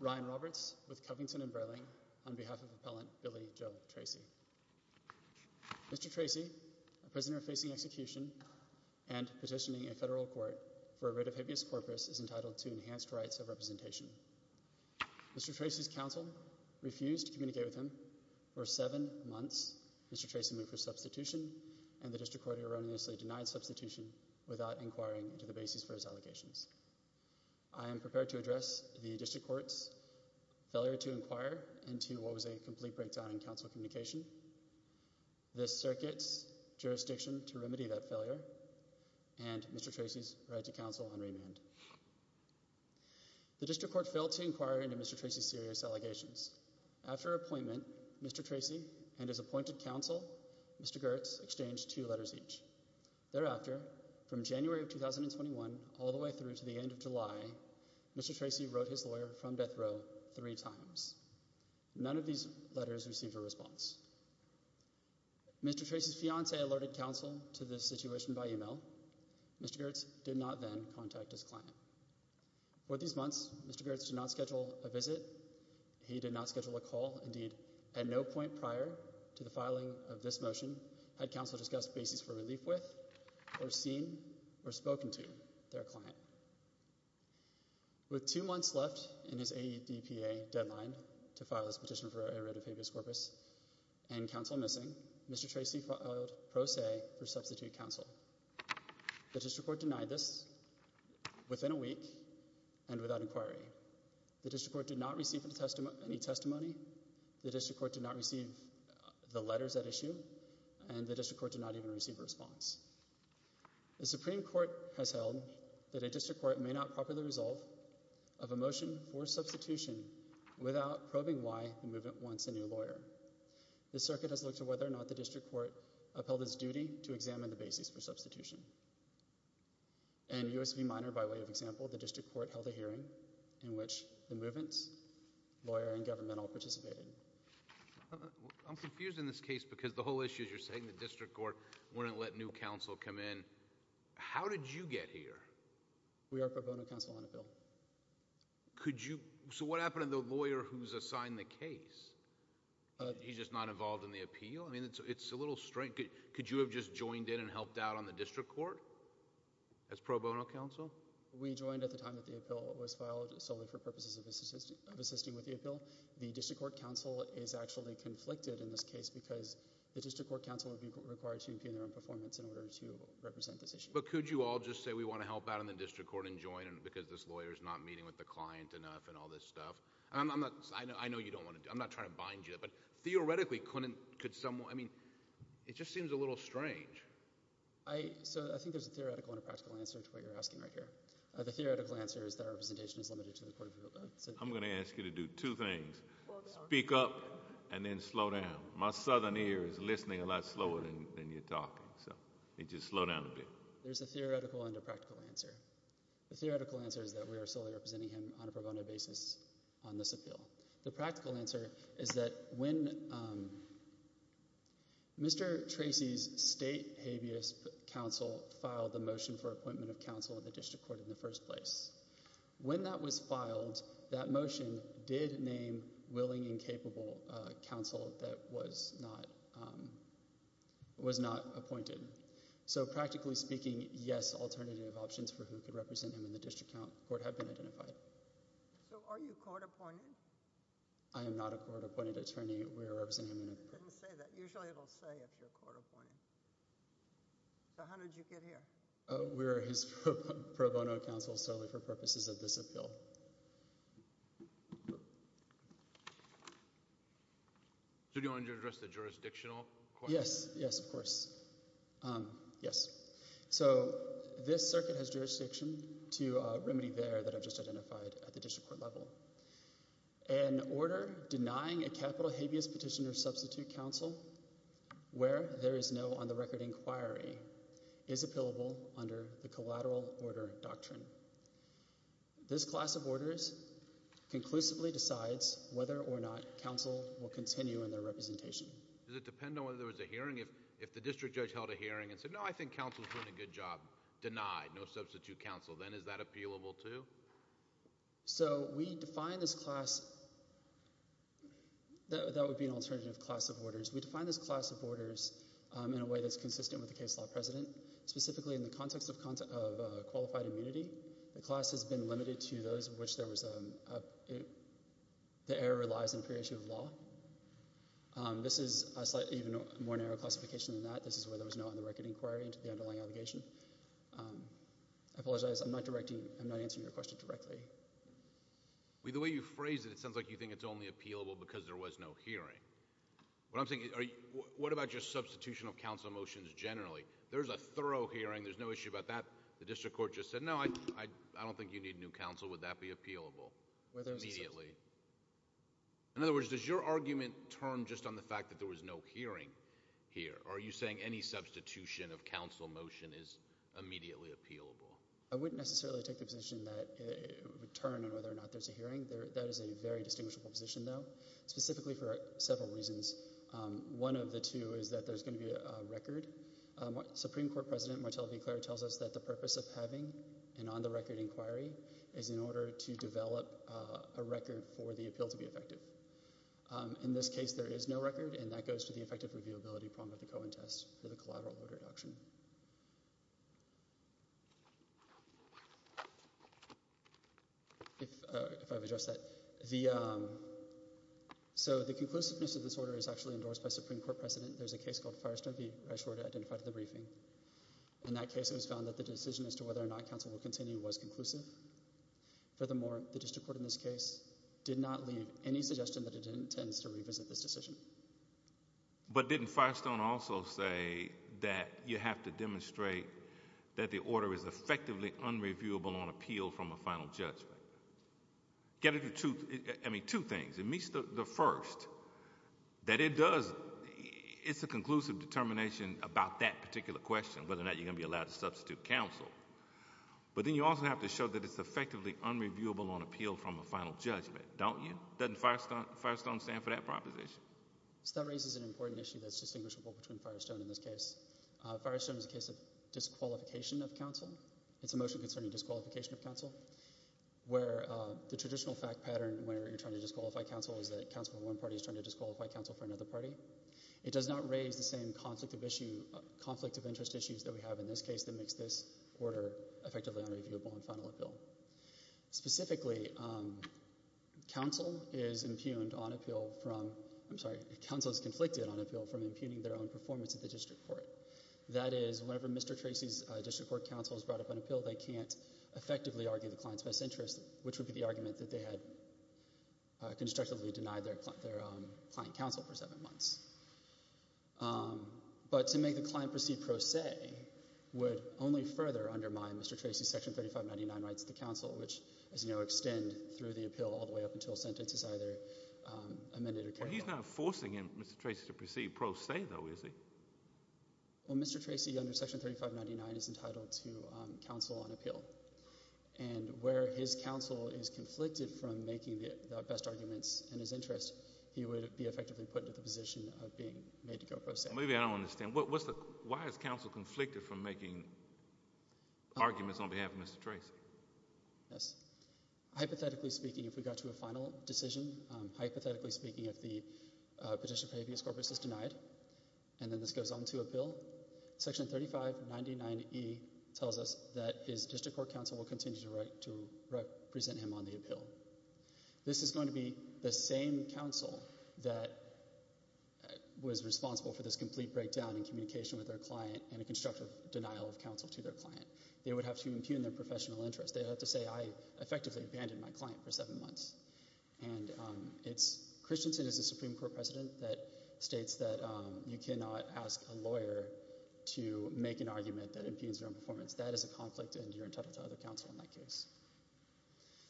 Ryan Roberts, with Covington & Burling, on behalf of Appellant Billy Joe Tracy Mr. Tracy, a prisoner facing execution and petitioning a federal court for a writ of habeas corpus is entitled to enhanced rights of representation. Mr. Tracy's counsel refused to communicate with him. For seven months, Mr. Tracy moved for substitution, and the District Court erroneously denied substitution without inquiring into the basis for his allegations. I am prepared to address the District Court's failure to inquire into what was a complete breakdown in counsel communication, this circuit's jurisdiction to remedy that failure, and Mr. Tracy's right to counsel on remand. The District Court failed to inquire into Mr. Tracy's serious allegations. After appointment, Mr. Tracy and his appointed counsel, Mr. Gertz, exchanged two letters each. Thereafter, from January of 2021 all the way through to the end of July, Mr. Tracy wrote his lawyer from death row three times. None of these letters received a response. Mr. Tracy's fiancee alerted counsel to this situation by email. Mr. Gertz did not then contact his client. For these months, Mr. Gertz did not schedule a visit. He did not schedule a call. Indeed, at no point prior to the filing of this motion had counsel discussed basis for relief with, or seen, or spoken to, their client. With two months left in his AEDPA deadline to file this petition for a writ of habeas corpus and counsel missing, Mr. Tracy filed pro se for substitute counsel. The District Court denied this within a week and without inquiry. The District Court did not receive any testimony. The District Court did not receive the letters at issue. And the District Court did not even receive a response. The Supreme Court has held that a District Court may not properly resolve of a motion for substitution without probing why the movement wants a new lawyer. The circuit has looked at whether or not the District Court upheld its duty to examine the basis for substitution. In U.S. v. Minor, by way of example, the District Court held a hearing in which the movement's lawyer and governmental participated. I'm confused in this case because the whole issue is you're saying the District Court wouldn't let new counsel come in. How did you get here? We are pro bono counsel on a bill. Could you, so what happened to the lawyer who's assigned the case? He's just not involved in the appeal? I mean, it's a little strange. Could you have just joined in and helped out on the District Court as pro bono counsel? We joined at the time that the appeal was filed solely for purposes of assisting with the appeal. The District Court counsel is actually conflicted in this case because the District Court counsel would be required to appear in their own performance in order to represent this issue. But could you all just say we want to help out in the District Court and join because this lawyer is not meeting with the client enough and all this stuff? I know you don't want to. I'm not trying to bind you. But theoretically, could someone, I mean, it just seems a little strange. So I think there's a theoretical and a practical answer to what you're asking right here. The theoretical answer is that representation is limited to the Court of Appeal. I'm going to ask you to do two things. Speak up and then slow down. My southern ear is listening a lot slower than you're talking. So just slow down a bit. There's a theoretical and a practical answer. The theoretical answer is that we are solely representing him on a pro bono basis on this appeal. The practical answer is that when Mr. Tracy's state habeas counsel filed the motion for appointment of counsel in the District Court in the first place, when that was filed, that motion did name willing and capable counsel that was not appointed. So practically speaking, yes, alternative options for who could represent him in the District Court have been identified. So are you court appointed? I am not a court appointed attorney. We are representing him in a pro bono. It didn't say that. Usually it'll say if you're court appointed. So how did you get here? We are his pro bono counsel solely for purposes of this appeal. So do you want to address the jurisdictional question? Yes, yes, of course. Yes. So this circuit has jurisdiction to remedy there that I've just identified at the District Court level. An order denying a capital habeas petitioner substitute counsel where there is no on the record inquiry is appealable under the collateral order doctrine. This class of orders conclusively decides whether or not counsel will continue in their representation. Does it depend on whether there was a hearing? If the district judge held a hearing and said, no, I think counsel's doing a good job, denied, no substitute counsel, then is that appealable too? So we define this class. That would be an alternative class of orders. We define this class of orders in a way that's consistent with the case law president, specifically in the context of content of qualified immunity. The class has been limited to those of which there was. The error relies on pre-issue of law. This is a slightly even more narrow classification than that. This is where there was no on the record inquiry into the underlying obligation. I apologize. I'm not directing. I'm not answering your question directly. The way you phrase it, it sounds like you think it's only appealable because there was no hearing. What I'm thinking, what about your substitution of counsel motions generally? There's a thorough hearing. There's no issue about that. The District Court just said, no, I don't think you need new counsel. Would that be appealable? In other words, does your argument turn just on the fact that there was no hearing here? Are you saying any substitution of counsel motion is immediately appealable? I wouldn't necessarily take the position that it would turn on whether or not there's a hearing. That is a very distinguishable position, though, specifically for several reasons. One of the two is that there's going to be a record. Supreme Court President Martel de Cleyre tells us that the purpose of having an on the record inquiry is in order to develop a record for the appeal to be effective. In this case, there is no record, and that goes to the effective reviewability prong of the Cohen test for the collateral order reduction. If I've addressed that, the so the conclusiveness of this order is actually endorsed by Supreme Court precedent. There's a case called Firestone v. Rashford identified at the briefing. In that case, it was found that the decision as to whether or not counsel will continue was conclusive. Furthermore, the district court in this case did not leave any suggestion that it intends to revisit this decision. But didn't Firestone also say that you have to demonstrate that the order is effectively unreviewable on appeal from a final judgment? Get it to me. Two things. It meets the first that it does. It's a conclusive determination about that particular question, whether or not you're going to be allowed to substitute counsel. But then you also have to show that it's effectively unreviewable on appeal from a final judgment, don't you? Doesn't Firestone stand for that proposition? That raises an important issue that's distinguishable between Firestone in this case. Firestone is a case of disqualification of counsel. It's a motion concerning disqualification of counsel where the traditional fact pattern where you're trying to disqualify counsel is that counsel of one party is trying to disqualify counsel for another party. It does not raise the same conflict of issue, conflict of interest issues that we have in this case that makes this order effectively unreviewable on final appeal. Specifically, counsel is impugned on appeal from, I'm sorry, counsel is conflicted on appeal from impugning their own performance at the district court. That is, whenever Mr. Tracy's district court counsel is brought up on appeal, they can't effectively argue the client's best interest, which would be the argument that they had constructively denied their client counsel for seven months. But to make the client proceed pro se would only further undermine Mr. Tracy's Section 3599 rights to counsel, which, as you know, extend through the appeal all the way up until a sentence is either amended or carried on. He's not forcing him, Mr. Tracy, to proceed pro se, though, is he? Well, Mr. Tracy, under Section 3599, is entitled to counsel on appeal. And where his counsel is conflicted from making the best arguments in his interest, he would be effectively put into the position of being made to go pro se. Maybe I don't understand. Why is counsel conflicted from making arguments on behalf of Mr. Tracy? Yes. Hypothetically speaking, if we got to a final decision, hypothetically speaking, if the petition for habeas corpus is denied and then this goes on to appeal, Section 3599E tells us that his district court counsel will continue to present him on the appeal. This is going to be the same counsel that was responsible for this complete breakdown in communication with their client and a constructive denial of counsel to their client. They would have to impugn their professional interest. They'd have to say, I effectively abandoned my client for seven months. And it's Christensen as a Supreme Court president that states that you cannot ask a lawyer to make an argument that impugns their own performance. That is a conflict, and you're entitled to other counsel in that case.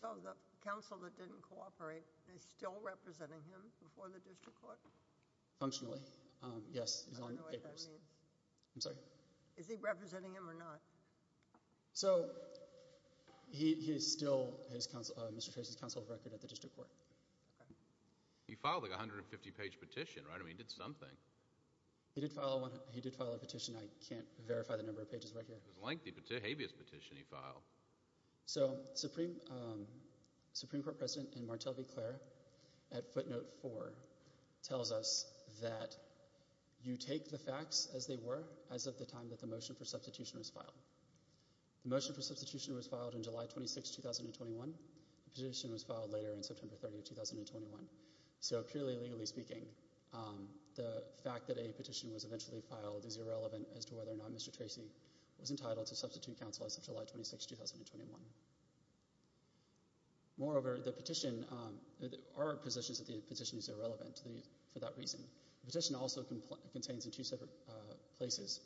So the counsel that didn't cooperate is still representing him before the district court? Functionally, yes. I don't know what that means. I'm sorry. Is he representing him or not? So he is still Mr. Tracy's counsel of record at the district court. Okay. He filed a 150-page petition, right? I mean, he did something. He did file a petition. I can't verify the number of pages right here. It was a lengthy habeas petition he filed. So Supreme Court President and Martel V. Clair at footnote four tells us that you take the facts as they were as of the time that the motion for substitution was filed. The motion for substitution was filed in July 26, 2021. The petition was filed later in September 30, 2021. So purely legally speaking, the fact that a petition was eventually filed is irrelevant as to whether or not Mr. Tracy was entitled to substitute counsel as of July 26, 2021. Moreover, the petition, our position is that the petition is irrelevant for that reason. The petition also contains in two separate places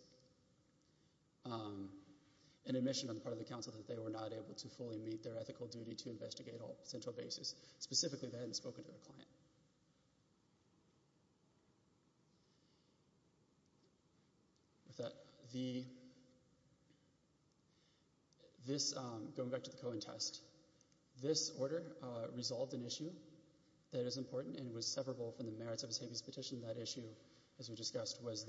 an admission on the part of the counsel that they were not able to fully meet their ethical duty to investigate all potential bases. Specifically, they hadn't spoken to their client. Going back to the Cohen test, this order resolved an issue that is important and was severable from the merits of his habeas petition. That issue, as we discussed, was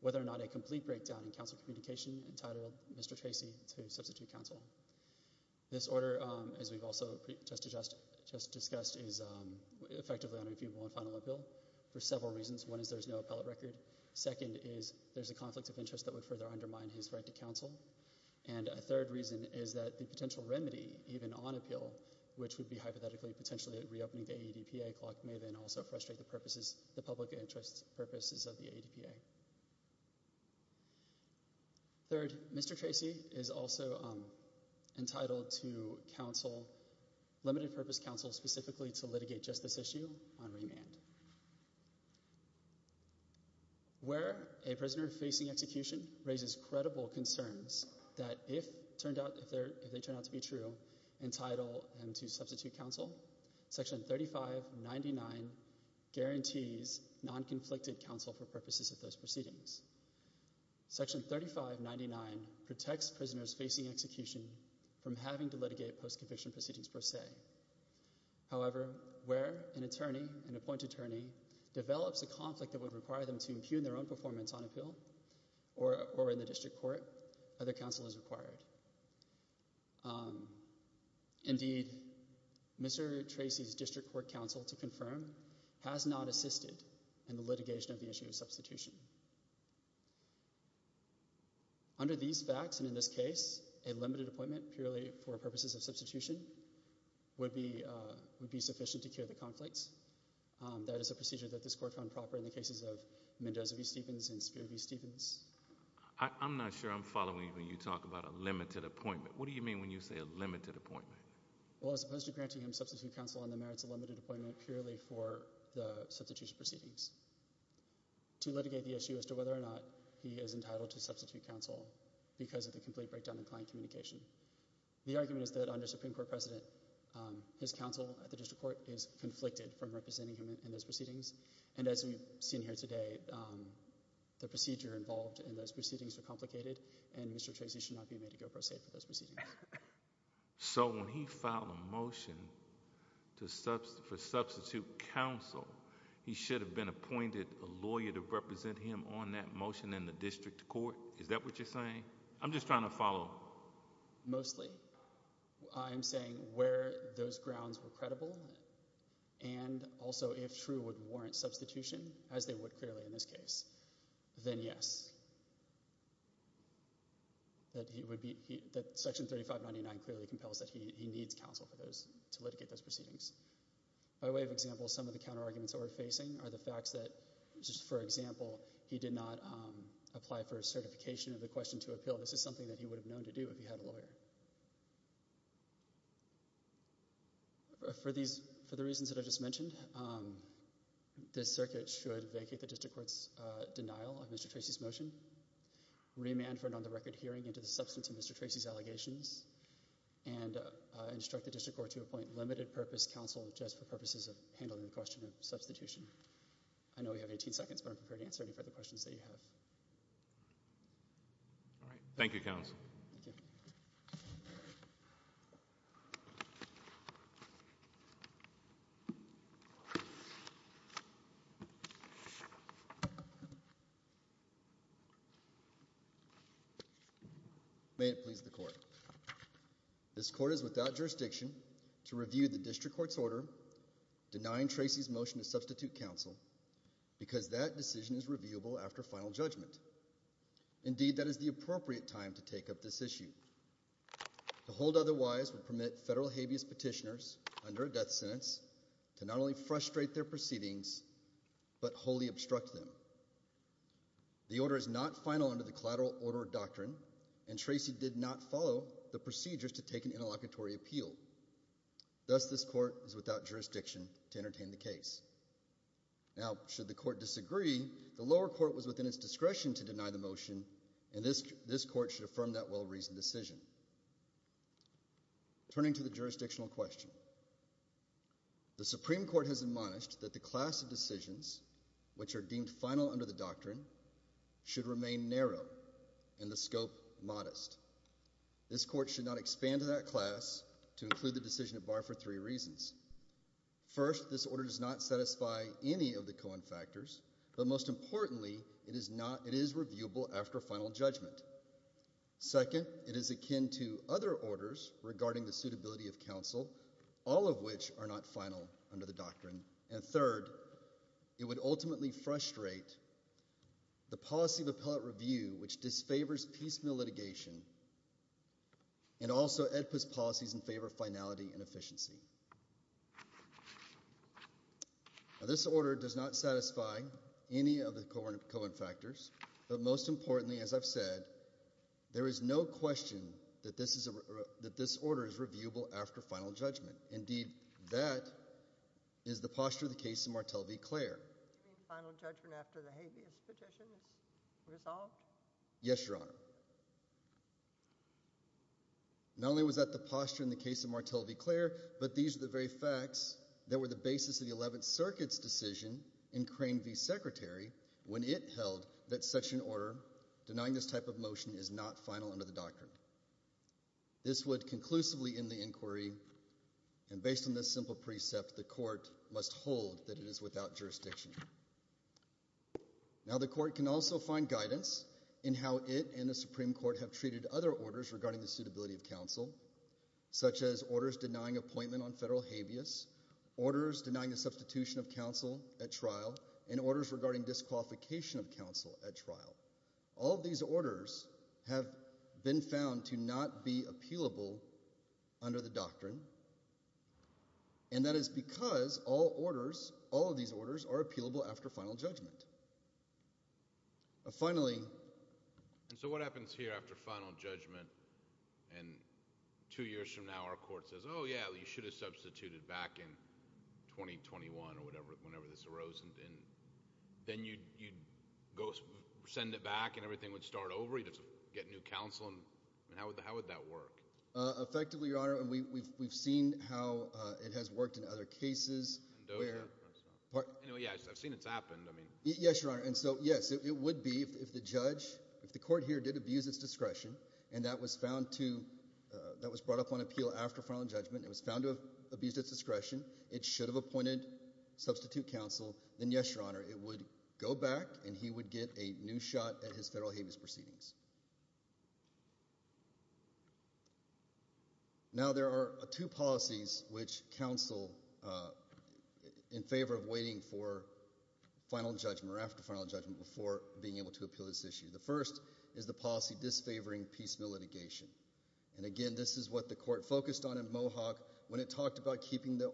whether or not a complete breakdown in counsel communication entitled Mr. Tracy to substitute counsel. This order, as we've also just discussed, is effectively unreviewable on final appeal for several reasons. One is there's no appellate record. Second is there's a conflict of interest that would further undermine his right to counsel. And a third reason is that the potential remedy, even on appeal, which would be hypothetically potentially reopening the ADPA clock, may then also frustrate the purposes, the public interest purposes of the ADPA. Third, Mr. Tracy is also entitled to counsel, limited purpose counsel, specifically to litigate just this issue on remand. Where a prisoner facing execution raises credible concerns that if they turn out to be true, entitle them to substitute counsel, Section 3599 guarantees non-conflicted counsel for purposes of those proceedings. Section 3599 protects prisoners facing execution from having to litigate post-conviction proceedings per se. However, where an attorney, an appointed attorney, develops a conflict that would require them to impugn their own performance on appeal or in the district court, other counsel is required. Indeed, Mr. Tracy's district court counsel, to confirm, has not assisted in the litigation of the issue of substitution. Under these facts, and in this case, a limited appointment purely for purposes of substitution would be sufficient to cure the conflicts. That is a procedure that this court found proper in the cases of Mendoza v. Stevens and Spear v. Stevens. I'm not sure I'm following when you talk about a limited appointment. What do you mean when you say a limited appointment? Well, as opposed to granting him substitute counsel on the merits of limited appointment purely for the substitution proceedings. To litigate the issue as to whether or not he is entitled to substitute counsel because of the complete breakdown in client communication. The argument is that under Supreme Court precedent, his counsel at the district court is conflicted from representing him in those proceedings. And as we've seen here today, the procedure involved in those proceedings are complicated, and Mr. Tracy should not be made to go pro se for those proceedings. So when he filed a motion for substitute counsel, he should have been appointed a lawyer to represent him on that motion in the district court? Is that what you're saying? I'm just trying to follow. Mostly. I'm saying where those grounds were credible. And also, if true, would warrant substitution, as they would clearly in this case, then yes. That he would be that Section 3599 clearly compels that he needs counsel for those to litigate those proceedings. By way of example, some of the counter arguments that we're facing are the facts that, just for example, he did not apply for a certification of the question to appeal. This is something that he would have known to do if he had a lawyer. For the reasons that I just mentioned, this circuit should vacate the district court's denial of Mr. Tracy's motion, remand for a non-record hearing into the substance of Mr. Tracy's allegations, and instruct the district court to appoint limited purpose counsel just for purposes of handling the question of substitution. I know we have 18 seconds, but I'm prepared to answer any further questions that you have. Thank you, counsel. This court is without jurisdiction to review the district court's order denying Tracy's motion to substitute counsel, because that decision is reviewable after final judgment. Indeed, that is the appropriate time to take up this issue. The hold otherwise would permit federal habeas petitioners under a death sentence to not only frustrate their proceedings, but wholly obstruct them. The order is not final under the collateral order doctrine, and Tracy did not follow the procedures to take an interlocutory appeal. Thus, this court is without jurisdiction to entertain the case. Now, should the court disagree, the lower court was within its discretion to deny the motion, and this court should affirm that well-reasoned decision. Turning to the jurisdictional question, the Supreme Court has admonished that the class of decisions which are deemed final under the doctrine should remain narrow and the scope modest. This court should not expand to that class to include the decision at bar for three reasons. First, this order does not satisfy any of the Cohen factors, but most importantly, it is reviewable after final judgment. Second, it is akin to other orders regarding the suitability of counsel, all of which are not final under the doctrine. And third, it would ultimately frustrate the policy of appellate review, which disfavors piecemeal litigation, and also EDPA's policies in favor of finality and efficiency. Now, this order does not satisfy any of the Cohen factors, but most importantly, as I've said, there is no question that this order is reviewable after final judgment. Indeed, that is the posture of the case of Martel v. Clare. You mean final judgment after the habeas petition is resolved? Yes, Your Honor. Not only was that the posture in the case of Martel v. Clare, but these are the very facts that were the basis of the Eleventh Circuit's decision in Crane v. Secretary when it held that such an order denying this type of motion is not final under the doctrine. This would conclusively end the inquiry, and based on this simple precept, the court must hold that it is without jurisdiction. Now, the court can also find guidance in how it and the Supreme Court have treated other orders regarding the suitability of counsel, such as orders denying appointment on federal habeas, orders denying the substitution of counsel at trial, and orders regarding disqualification of counsel at trial. All of these orders have been found to not be appealable under the doctrine, and that is because all of these orders are appealable after final judgment. Finally— So what happens here after final judgment, and two years from now our court says, Oh, yeah, you should have substituted back in 2021 or whenever this arose, and then you'd send it back and everything would start over, you'd get new counsel, and how would that work? Effectively, Your Honor, we've seen how it has worked in other cases. I've seen it happen. Yes, Your Honor, and so, yes, it would be if the judge, if the court here did abuse its discretion, and that was brought up on appeal after final judgment, it was found to have abused its discretion, it should have appointed substitute counsel, then yes, Your Honor, it would go back and he would get a new shot at his federal habeas proceedings. Now, there are two policies which counsel in favor of waiting for final judgment or after final judgment before being able to appeal this issue. The first is the policy disfavoring piecemeal litigation, and again, this is what the court focused on in Mohawk when it talked about keeping the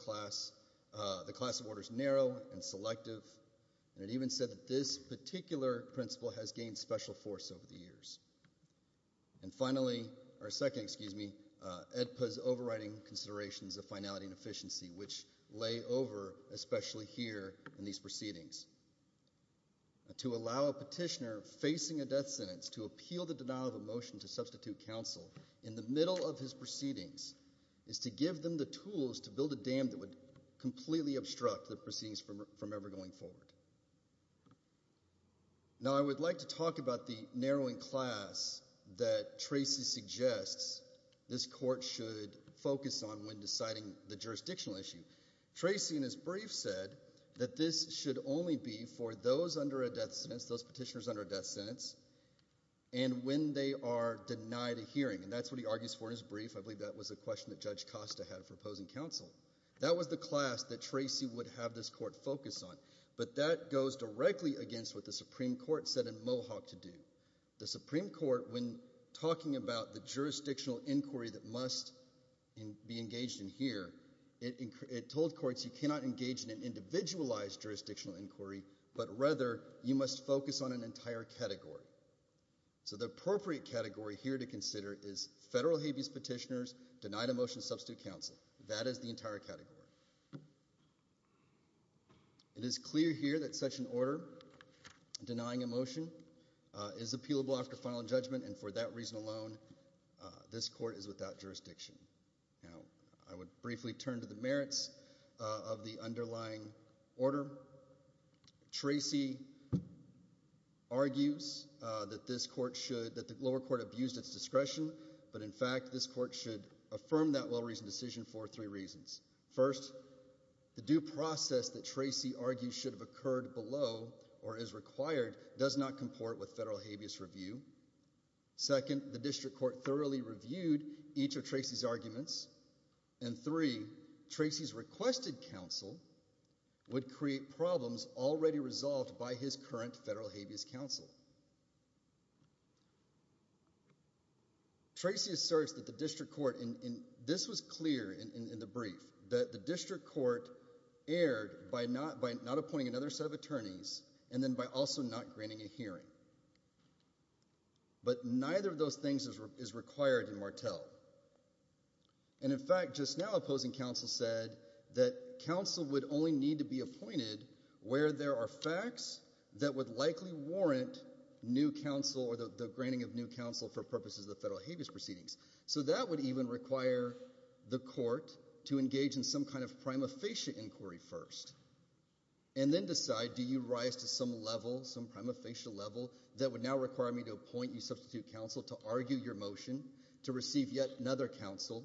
class of orders narrow and selective, and it even said that this particular principle has gained special force over the years. And finally, or second, excuse me, EDPA's overriding considerations of finality and efficiency, which lay over especially here in these proceedings. To allow a petitioner facing a death sentence to appeal the denial of a motion to substitute counsel in the middle of his proceedings is to give them the tools to build a dam that would completely obstruct the proceedings from ever going forward. Now, I would like to talk about the narrowing class that Tracy suggests this court should focus on when deciding the jurisdictional issue. Tracy, in his brief, said that this should only be for those under a death sentence, those petitioners under a death sentence, and when they are denied a hearing, and that's what he argues for in his brief. I believe that was a question that Judge Costa had for opposing counsel. That was the class that Tracy would have this court focus on, but that goes directly against what the Supreme Court said in Mohawk to do. The Supreme Court, when talking about the jurisdictional inquiry that must be engaged in here, it told courts you cannot engage in an individualized jurisdictional inquiry, but rather you must focus on an entire category. So the appropriate category here to consider is federal habeas petitioners, denied a motion to substitute counsel. That is the entire category. It is clear here that such an order denying a motion is appealable after final judgment, and for that reason alone this court is without jurisdiction. Now, I would briefly turn to the merits of the underlying order. Tracy argues that this court should, that the lower court abused its discretion, but in fact this court should affirm that well-reasoned decision for three reasons. First, the due process that Tracy argues should have occurred below or is required does not comport with federal habeas review. Second, the district court thoroughly reviewed each of Tracy's arguments. And three, Tracy's requested counsel would create problems already resolved by his current federal habeas counsel. Tracy asserts that the district court, and this was clear in the brief, that the district court erred by not appointing another set of attorneys and then by also not granting a hearing. But neither of those things is required in Martell. And in fact, just now opposing counsel said that counsel would only need to be appointed where there are facts that would likely warrant new counsel or the granting of new counsel for purposes of the federal habeas proceedings. So that would even require the court to engage in some kind of prima facie inquiry first and then decide do you rise to some level, some prima facie level, that would now require me to appoint you substitute counsel to argue your motion to receive yet another counsel.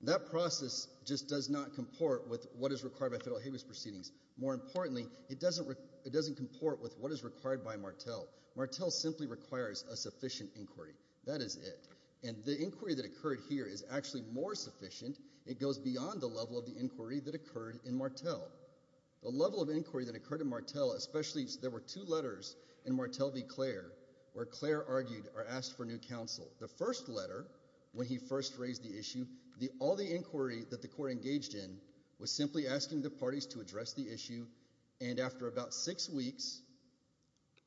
That process just does not comport with what is required by federal habeas proceedings. More importantly, it doesn't comport with what is required by Martell. Martell simply requires a sufficient inquiry. That is it. And the inquiry that occurred here is actually more sufficient. It goes beyond the level of the inquiry that occurred in Martell. The level of inquiry that occurred in Martell, especially there were two letters in Martell v. Clare where Clare argued or asked for new counsel. The first letter, when he first raised the issue, all the inquiry that the court engaged in was simply asking the parties to address the issue. And after about six weeks,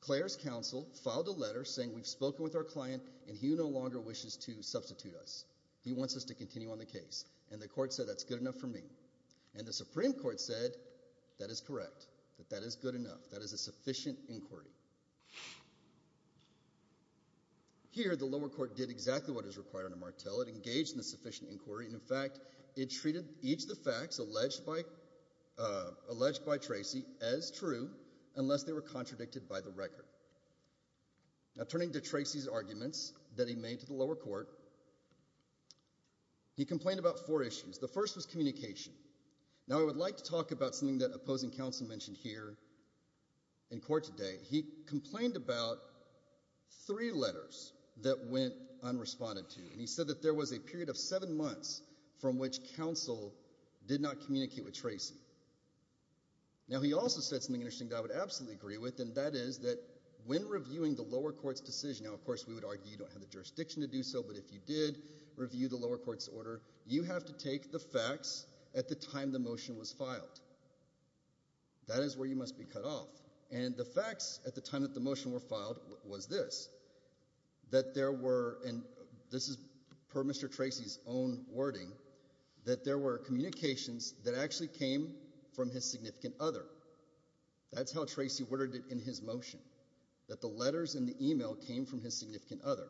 Clare's counsel filed a letter saying we've spoken with our client and he no longer wishes to substitute us. He wants us to continue on the case. And the court said that's good enough for me. And the Supreme Court said that is correct, that that is good enough. That is a sufficient inquiry. Here the lower court did exactly what is required under Martell. It engaged in a sufficient inquiry. In fact, it treated each of the facts alleged by Tracy as true unless they were contradicted by the record. Now turning to Tracy's arguments that he made to the lower court, he complained about four issues. The first was communication. Now I would like to talk about something that opposing counsel mentioned here in court today. He complained about three letters that went unresponded to. And he said that there was a period of seven months from which counsel did not communicate with Tracy. Now he also said something interesting that I would absolutely agree with, and that is that when reviewing the lower court's decision, now of course we would argue you don't have the jurisdiction to do so, but if you did review the lower court's order, you have to take the facts at the time the motion was filed. That is where you must be cut off. And the facts at the time that the motion was filed was this, that there were, and this is per Mr. Tracy's own wording, that there were communications that actually came from his significant other. That's how Tracy worded it in his motion, that the letters in the email came from his significant other,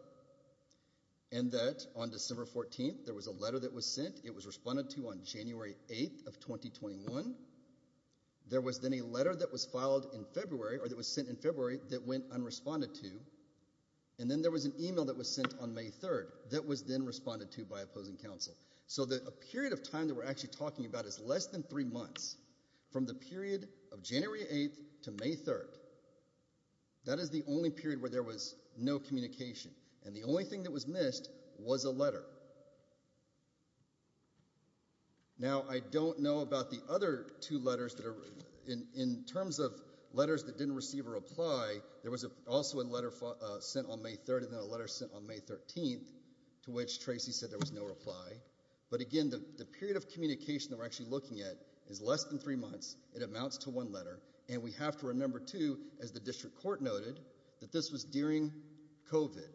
and that on December 14th there was a letter that was sent. It was responded to on January 8th of 2021. There was then a letter that was filed in February, or that was sent in February that went unresponded to, and then there was an email that was sent on May 3rd that was then responded to by opposing counsel. So that a period of time that we're actually talking about is less than three months, from the period of January 8th to May 3rd. That is the only period where there was no communication, and the only thing that was missed was a letter. Now, I don't know about the other two letters that are, in terms of letters that didn't receive a reply, there was also a letter sent on May 3rd, and then a letter sent on May 13th to which Tracy said there was no reply. But again, the period of communication that we're actually looking at is less than three months. It amounts to one letter. And we have to remember too, as the district court noted, that this was during COVID.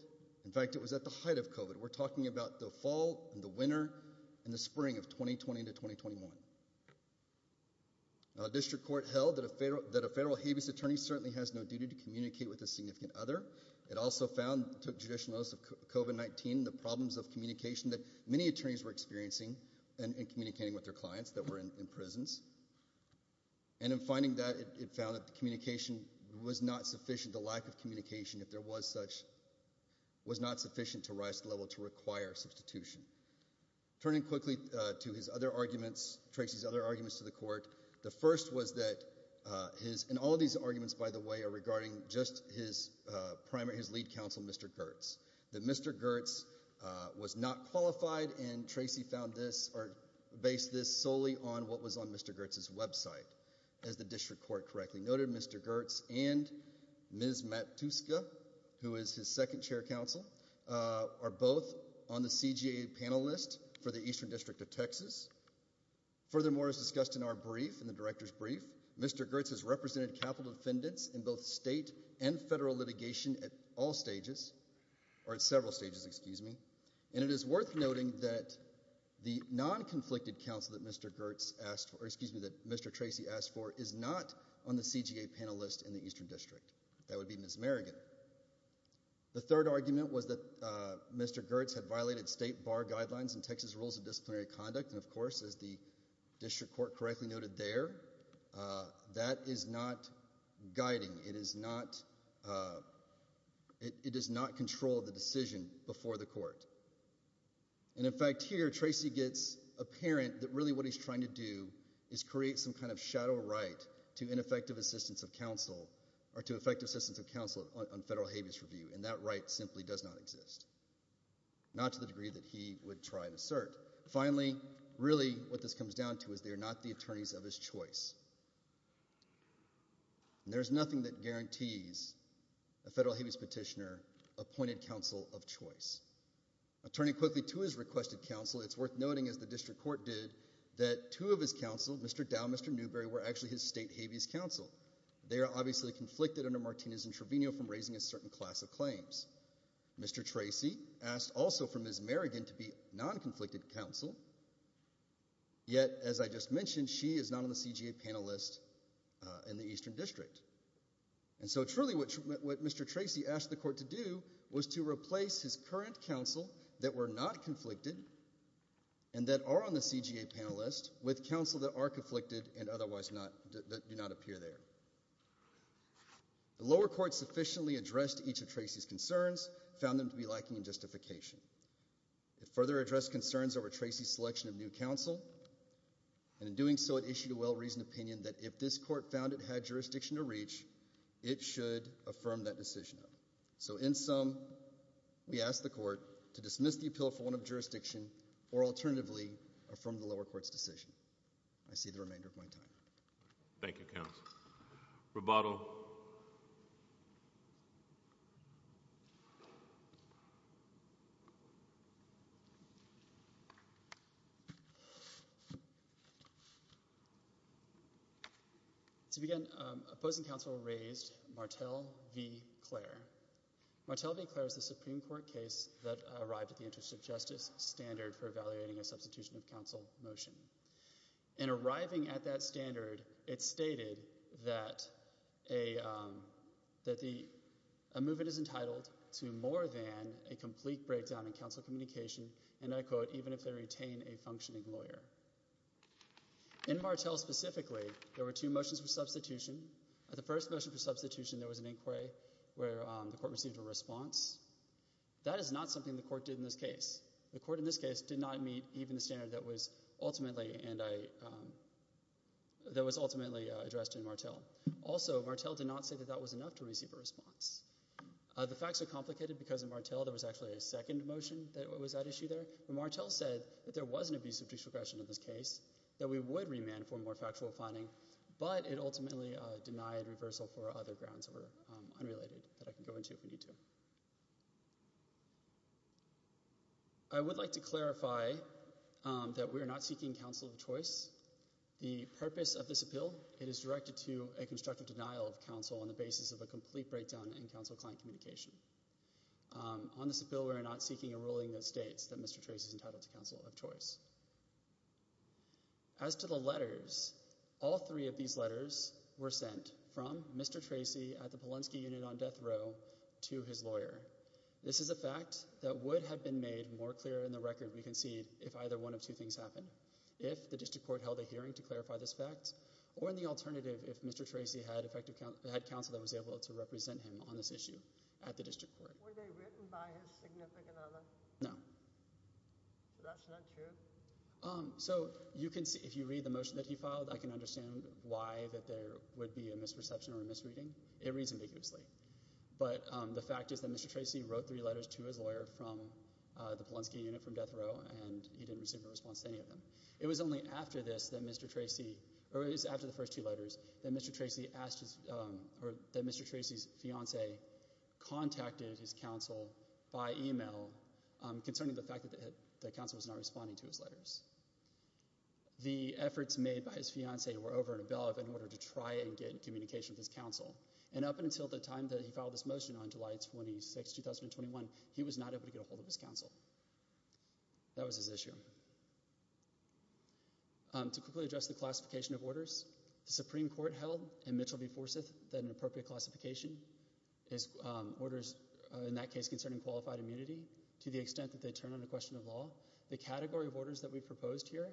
In fact, it was at the height of COVID. We're talking about the fall and the winter and the spring of 2020 to 2021. A district court held that a federal habeas attorney certainly has no duty to communicate with a significant other. It also found, took judicial notice of COVID-19, the problems of communication that many attorneys were experiencing in communicating with their clients that were in prisons. And in finding that, it found that the communication was not sufficient, the lack of communication, if there was such, was not sufficient to rise to the level to require substitution. Turning quickly to his other arguments, Tracy's other arguments to the court, the first was that his, and all of these arguments, by the way, are regarding just his primary, his lead counsel, Mr. Gertz, that Mr. Gertz was not qualified, and Tracy found this, or based this solely on what was on Mr. Gertz's website, as the district court correctly noted, Mr. Gertz and Ms. Matuska, who is his second chair counsel, are both on the CGA panel list for the Eastern District of Texas. Furthermore, as discussed in our brief, in the director's brief, Mr. Gertz has represented capital defendants in both state and federal litigation at all stages, or at several stages, excuse me, and it is worth noting that the non-conflicted counsel that Mr. Gertz asked for, excuse me, that Mr. Tracy asked for, is not on the CGA panel list in the Eastern District. That would be Miss Merrigan. The third argument was that Mr. Gertz had violated state bar guidelines in Texas rules of disciplinary conduct, and of course, as the district court correctly noted there, that is not guiding. It is not, it does not control the decision before the court. And in fact, here, Tracy gets apparent that really what he's trying to do is create some kind of shadow right to ineffective assistance of counsel or to effective assistance of counsel on federal habeas review, and that right simply does not exist, not to the degree that he would try to assert. Finally, really what this comes down to is they are not the attorneys of his choice, and there is nothing that guarantees a federal habeas petitioner appointed counsel of choice. Turning quickly to his requested counsel, it's worth noting, as the district court did, that two of his counsel, Mr. Dow, Mr. Newberry, were actually his state habeas counsel. They are obviously conflicted under Martinez and Trevino from raising a certain class of claims. Mr. Tracy asked also for Ms. Merrigan to be non-conflicted counsel, yet as I just mentioned, she is not on the CGA panel list in the Eastern District. And so truly what Mr. Tracy asked the court to do was to replace his current counsel that were not conflicted and that are on the CGA panel list with counsel that are conflicted and otherwise do not appear there. The lower court sufficiently addressed each of Tracy's concerns, found them to be lacking in justification. It further addressed concerns over Tracy's selection of new counsel, and in doing so it issued a well-reasoned opinion that if this court found it had jurisdiction to reach, it should affirm that decision. So in sum, we ask the court to dismiss the appeal for one of jurisdiction or alternatively affirm the lower court's decision. I see the remainder of my time. Thank you, counsel. Roboto. To begin, opposing counsel raised Martel v. Clare. Martel v. Clare is a Supreme Court case that arrived at the interest of justice standard for evaluating a substitution of counsel motion. In arriving at that standard, it stated that a movement is entitled to more than a complete breakdown in counsel communication, and I quote, even if they retain a functioning lawyer. In Martel specifically, there were two motions for substitution. The first motion for substitution, there was an inquiry where the court received a response. That is not something the court did in this case. The court in this case did not meet even the standard that was ultimately addressed in Martel. Also, Martel did not say that that was enough to receive a response. The facts are complicated because in Martel there was actually a second motion that was at issue there, but Martel said that there was an abuse of judicial discretion in this case, that we would remand for more factual finding, but it ultimately denied reversal for other grounds that were unrelated that I can go into if we need to. I would like to clarify that we are not seeking counsel of choice. The purpose of this appeal, it is directed to a constructive denial of counsel on the basis of a complete breakdown in counsel client communication. On this appeal, we are not seeking a ruling that states that Mr. Tracy is entitled to counsel of choice. As to the letters, all three of these letters were sent from Mr. Tracy at the Polonsky unit on death row to his lawyer. This is a fact that would have been made more clear in the record we concede if either one of two things happened, if the district court held a hearing to clarify this fact, or in the alternative, if Mr. Tracy had counsel that was able to represent him on this issue at the district court. Were they written by his significant other? No. So that's not true? So if you read the motion that he filed, I can understand why there would be a misperception or a misreading. It reads ambiguously. But the fact is that Mr. Tracy wrote three letters to his lawyer from the Polonsky unit from death row, and he didn't receive a response to any of them. It was only after the first two letters that Mr. Tracy's fiancée contacted his counsel by e-mail concerning the fact that the counsel was not responding to his letters. The efforts made by his fiancée were over and above in order to try and get communication with his counsel, and up until the time that he filed this motion on July 26, 2021, he was not able to get a hold of his counsel. That was his issue. To quickly address the classification of orders, the Supreme Court held in Mitchell v. Forsyth that an appropriate classification is orders in that case concerning qualified immunity to the extent that they turn on a question of law. The category of orders that we proposed here,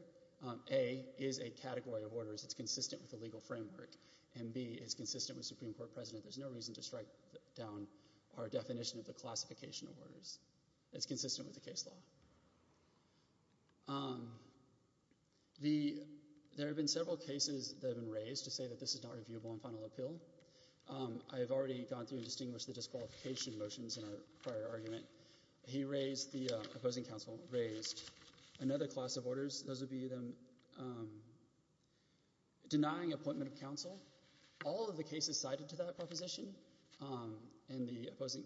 A, is a category of orders. It's consistent with the legal framework. And B, it's consistent with Supreme Court precedent. There's no reason to strike down our definition of the classification of orders. It's consistent with the case law. There have been several cases that have been raised to say that this is not reviewable on final appeal. I have already gone through and distinguished the disqualification motions in our prior argument. The opposing counsel raised another class of orders. Those would be denying appointment of counsel. All of the cases cited to that proposition in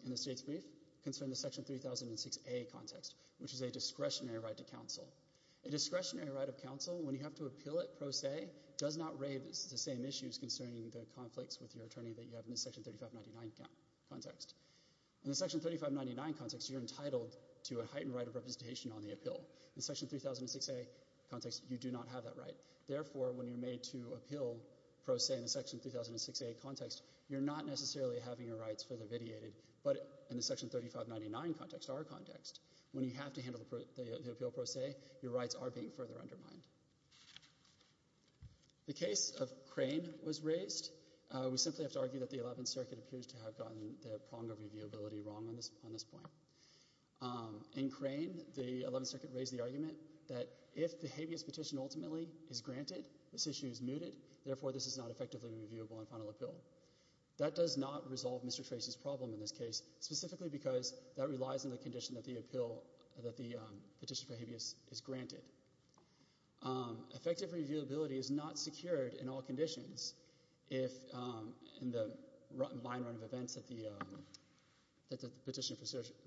the state's brief concern the Section 3006A context, which is a discretionary right to counsel. A discretionary right of counsel, when you have to appeal it pro se, does not raise the same issues concerning the conflicts with your attorney that you have in the Section 3599 context. In the Section 3599 context, you're entitled to a heightened right of representation on the appeal. In the Section 3006A context, you do not have that right. Therefore, when you're made to appeal pro se in the Section 3006A context, you're not necessarily having your rights further vitiated. But in the Section 3599 context, our context, when you have to handle the appeal pro se, your rights are being further undermined. The case of Crane was raised. We simply have to argue that the Eleventh Circuit appears to have gotten the prong of reviewability wrong on this point. In Crane, the Eleventh Circuit raised the argument that if the habeas petition ultimately is granted, this issue is mooted. Therefore, this is not effectively reviewable on final appeal. That does not resolve Mr. Tracy's problem in this case, specifically because that relies on the condition that the petition for habeas is granted. Effective reviewability is not secured in all conditions. In the line run of events, the petition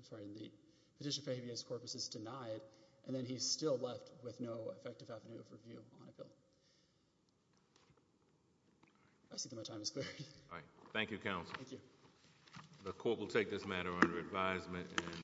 for habeas corpus is denied, and then he's still left with no effective avenue of review on appeal. I see that my time has cleared. Thank you, Counsel. Thank you. The court will take this matter under advisement.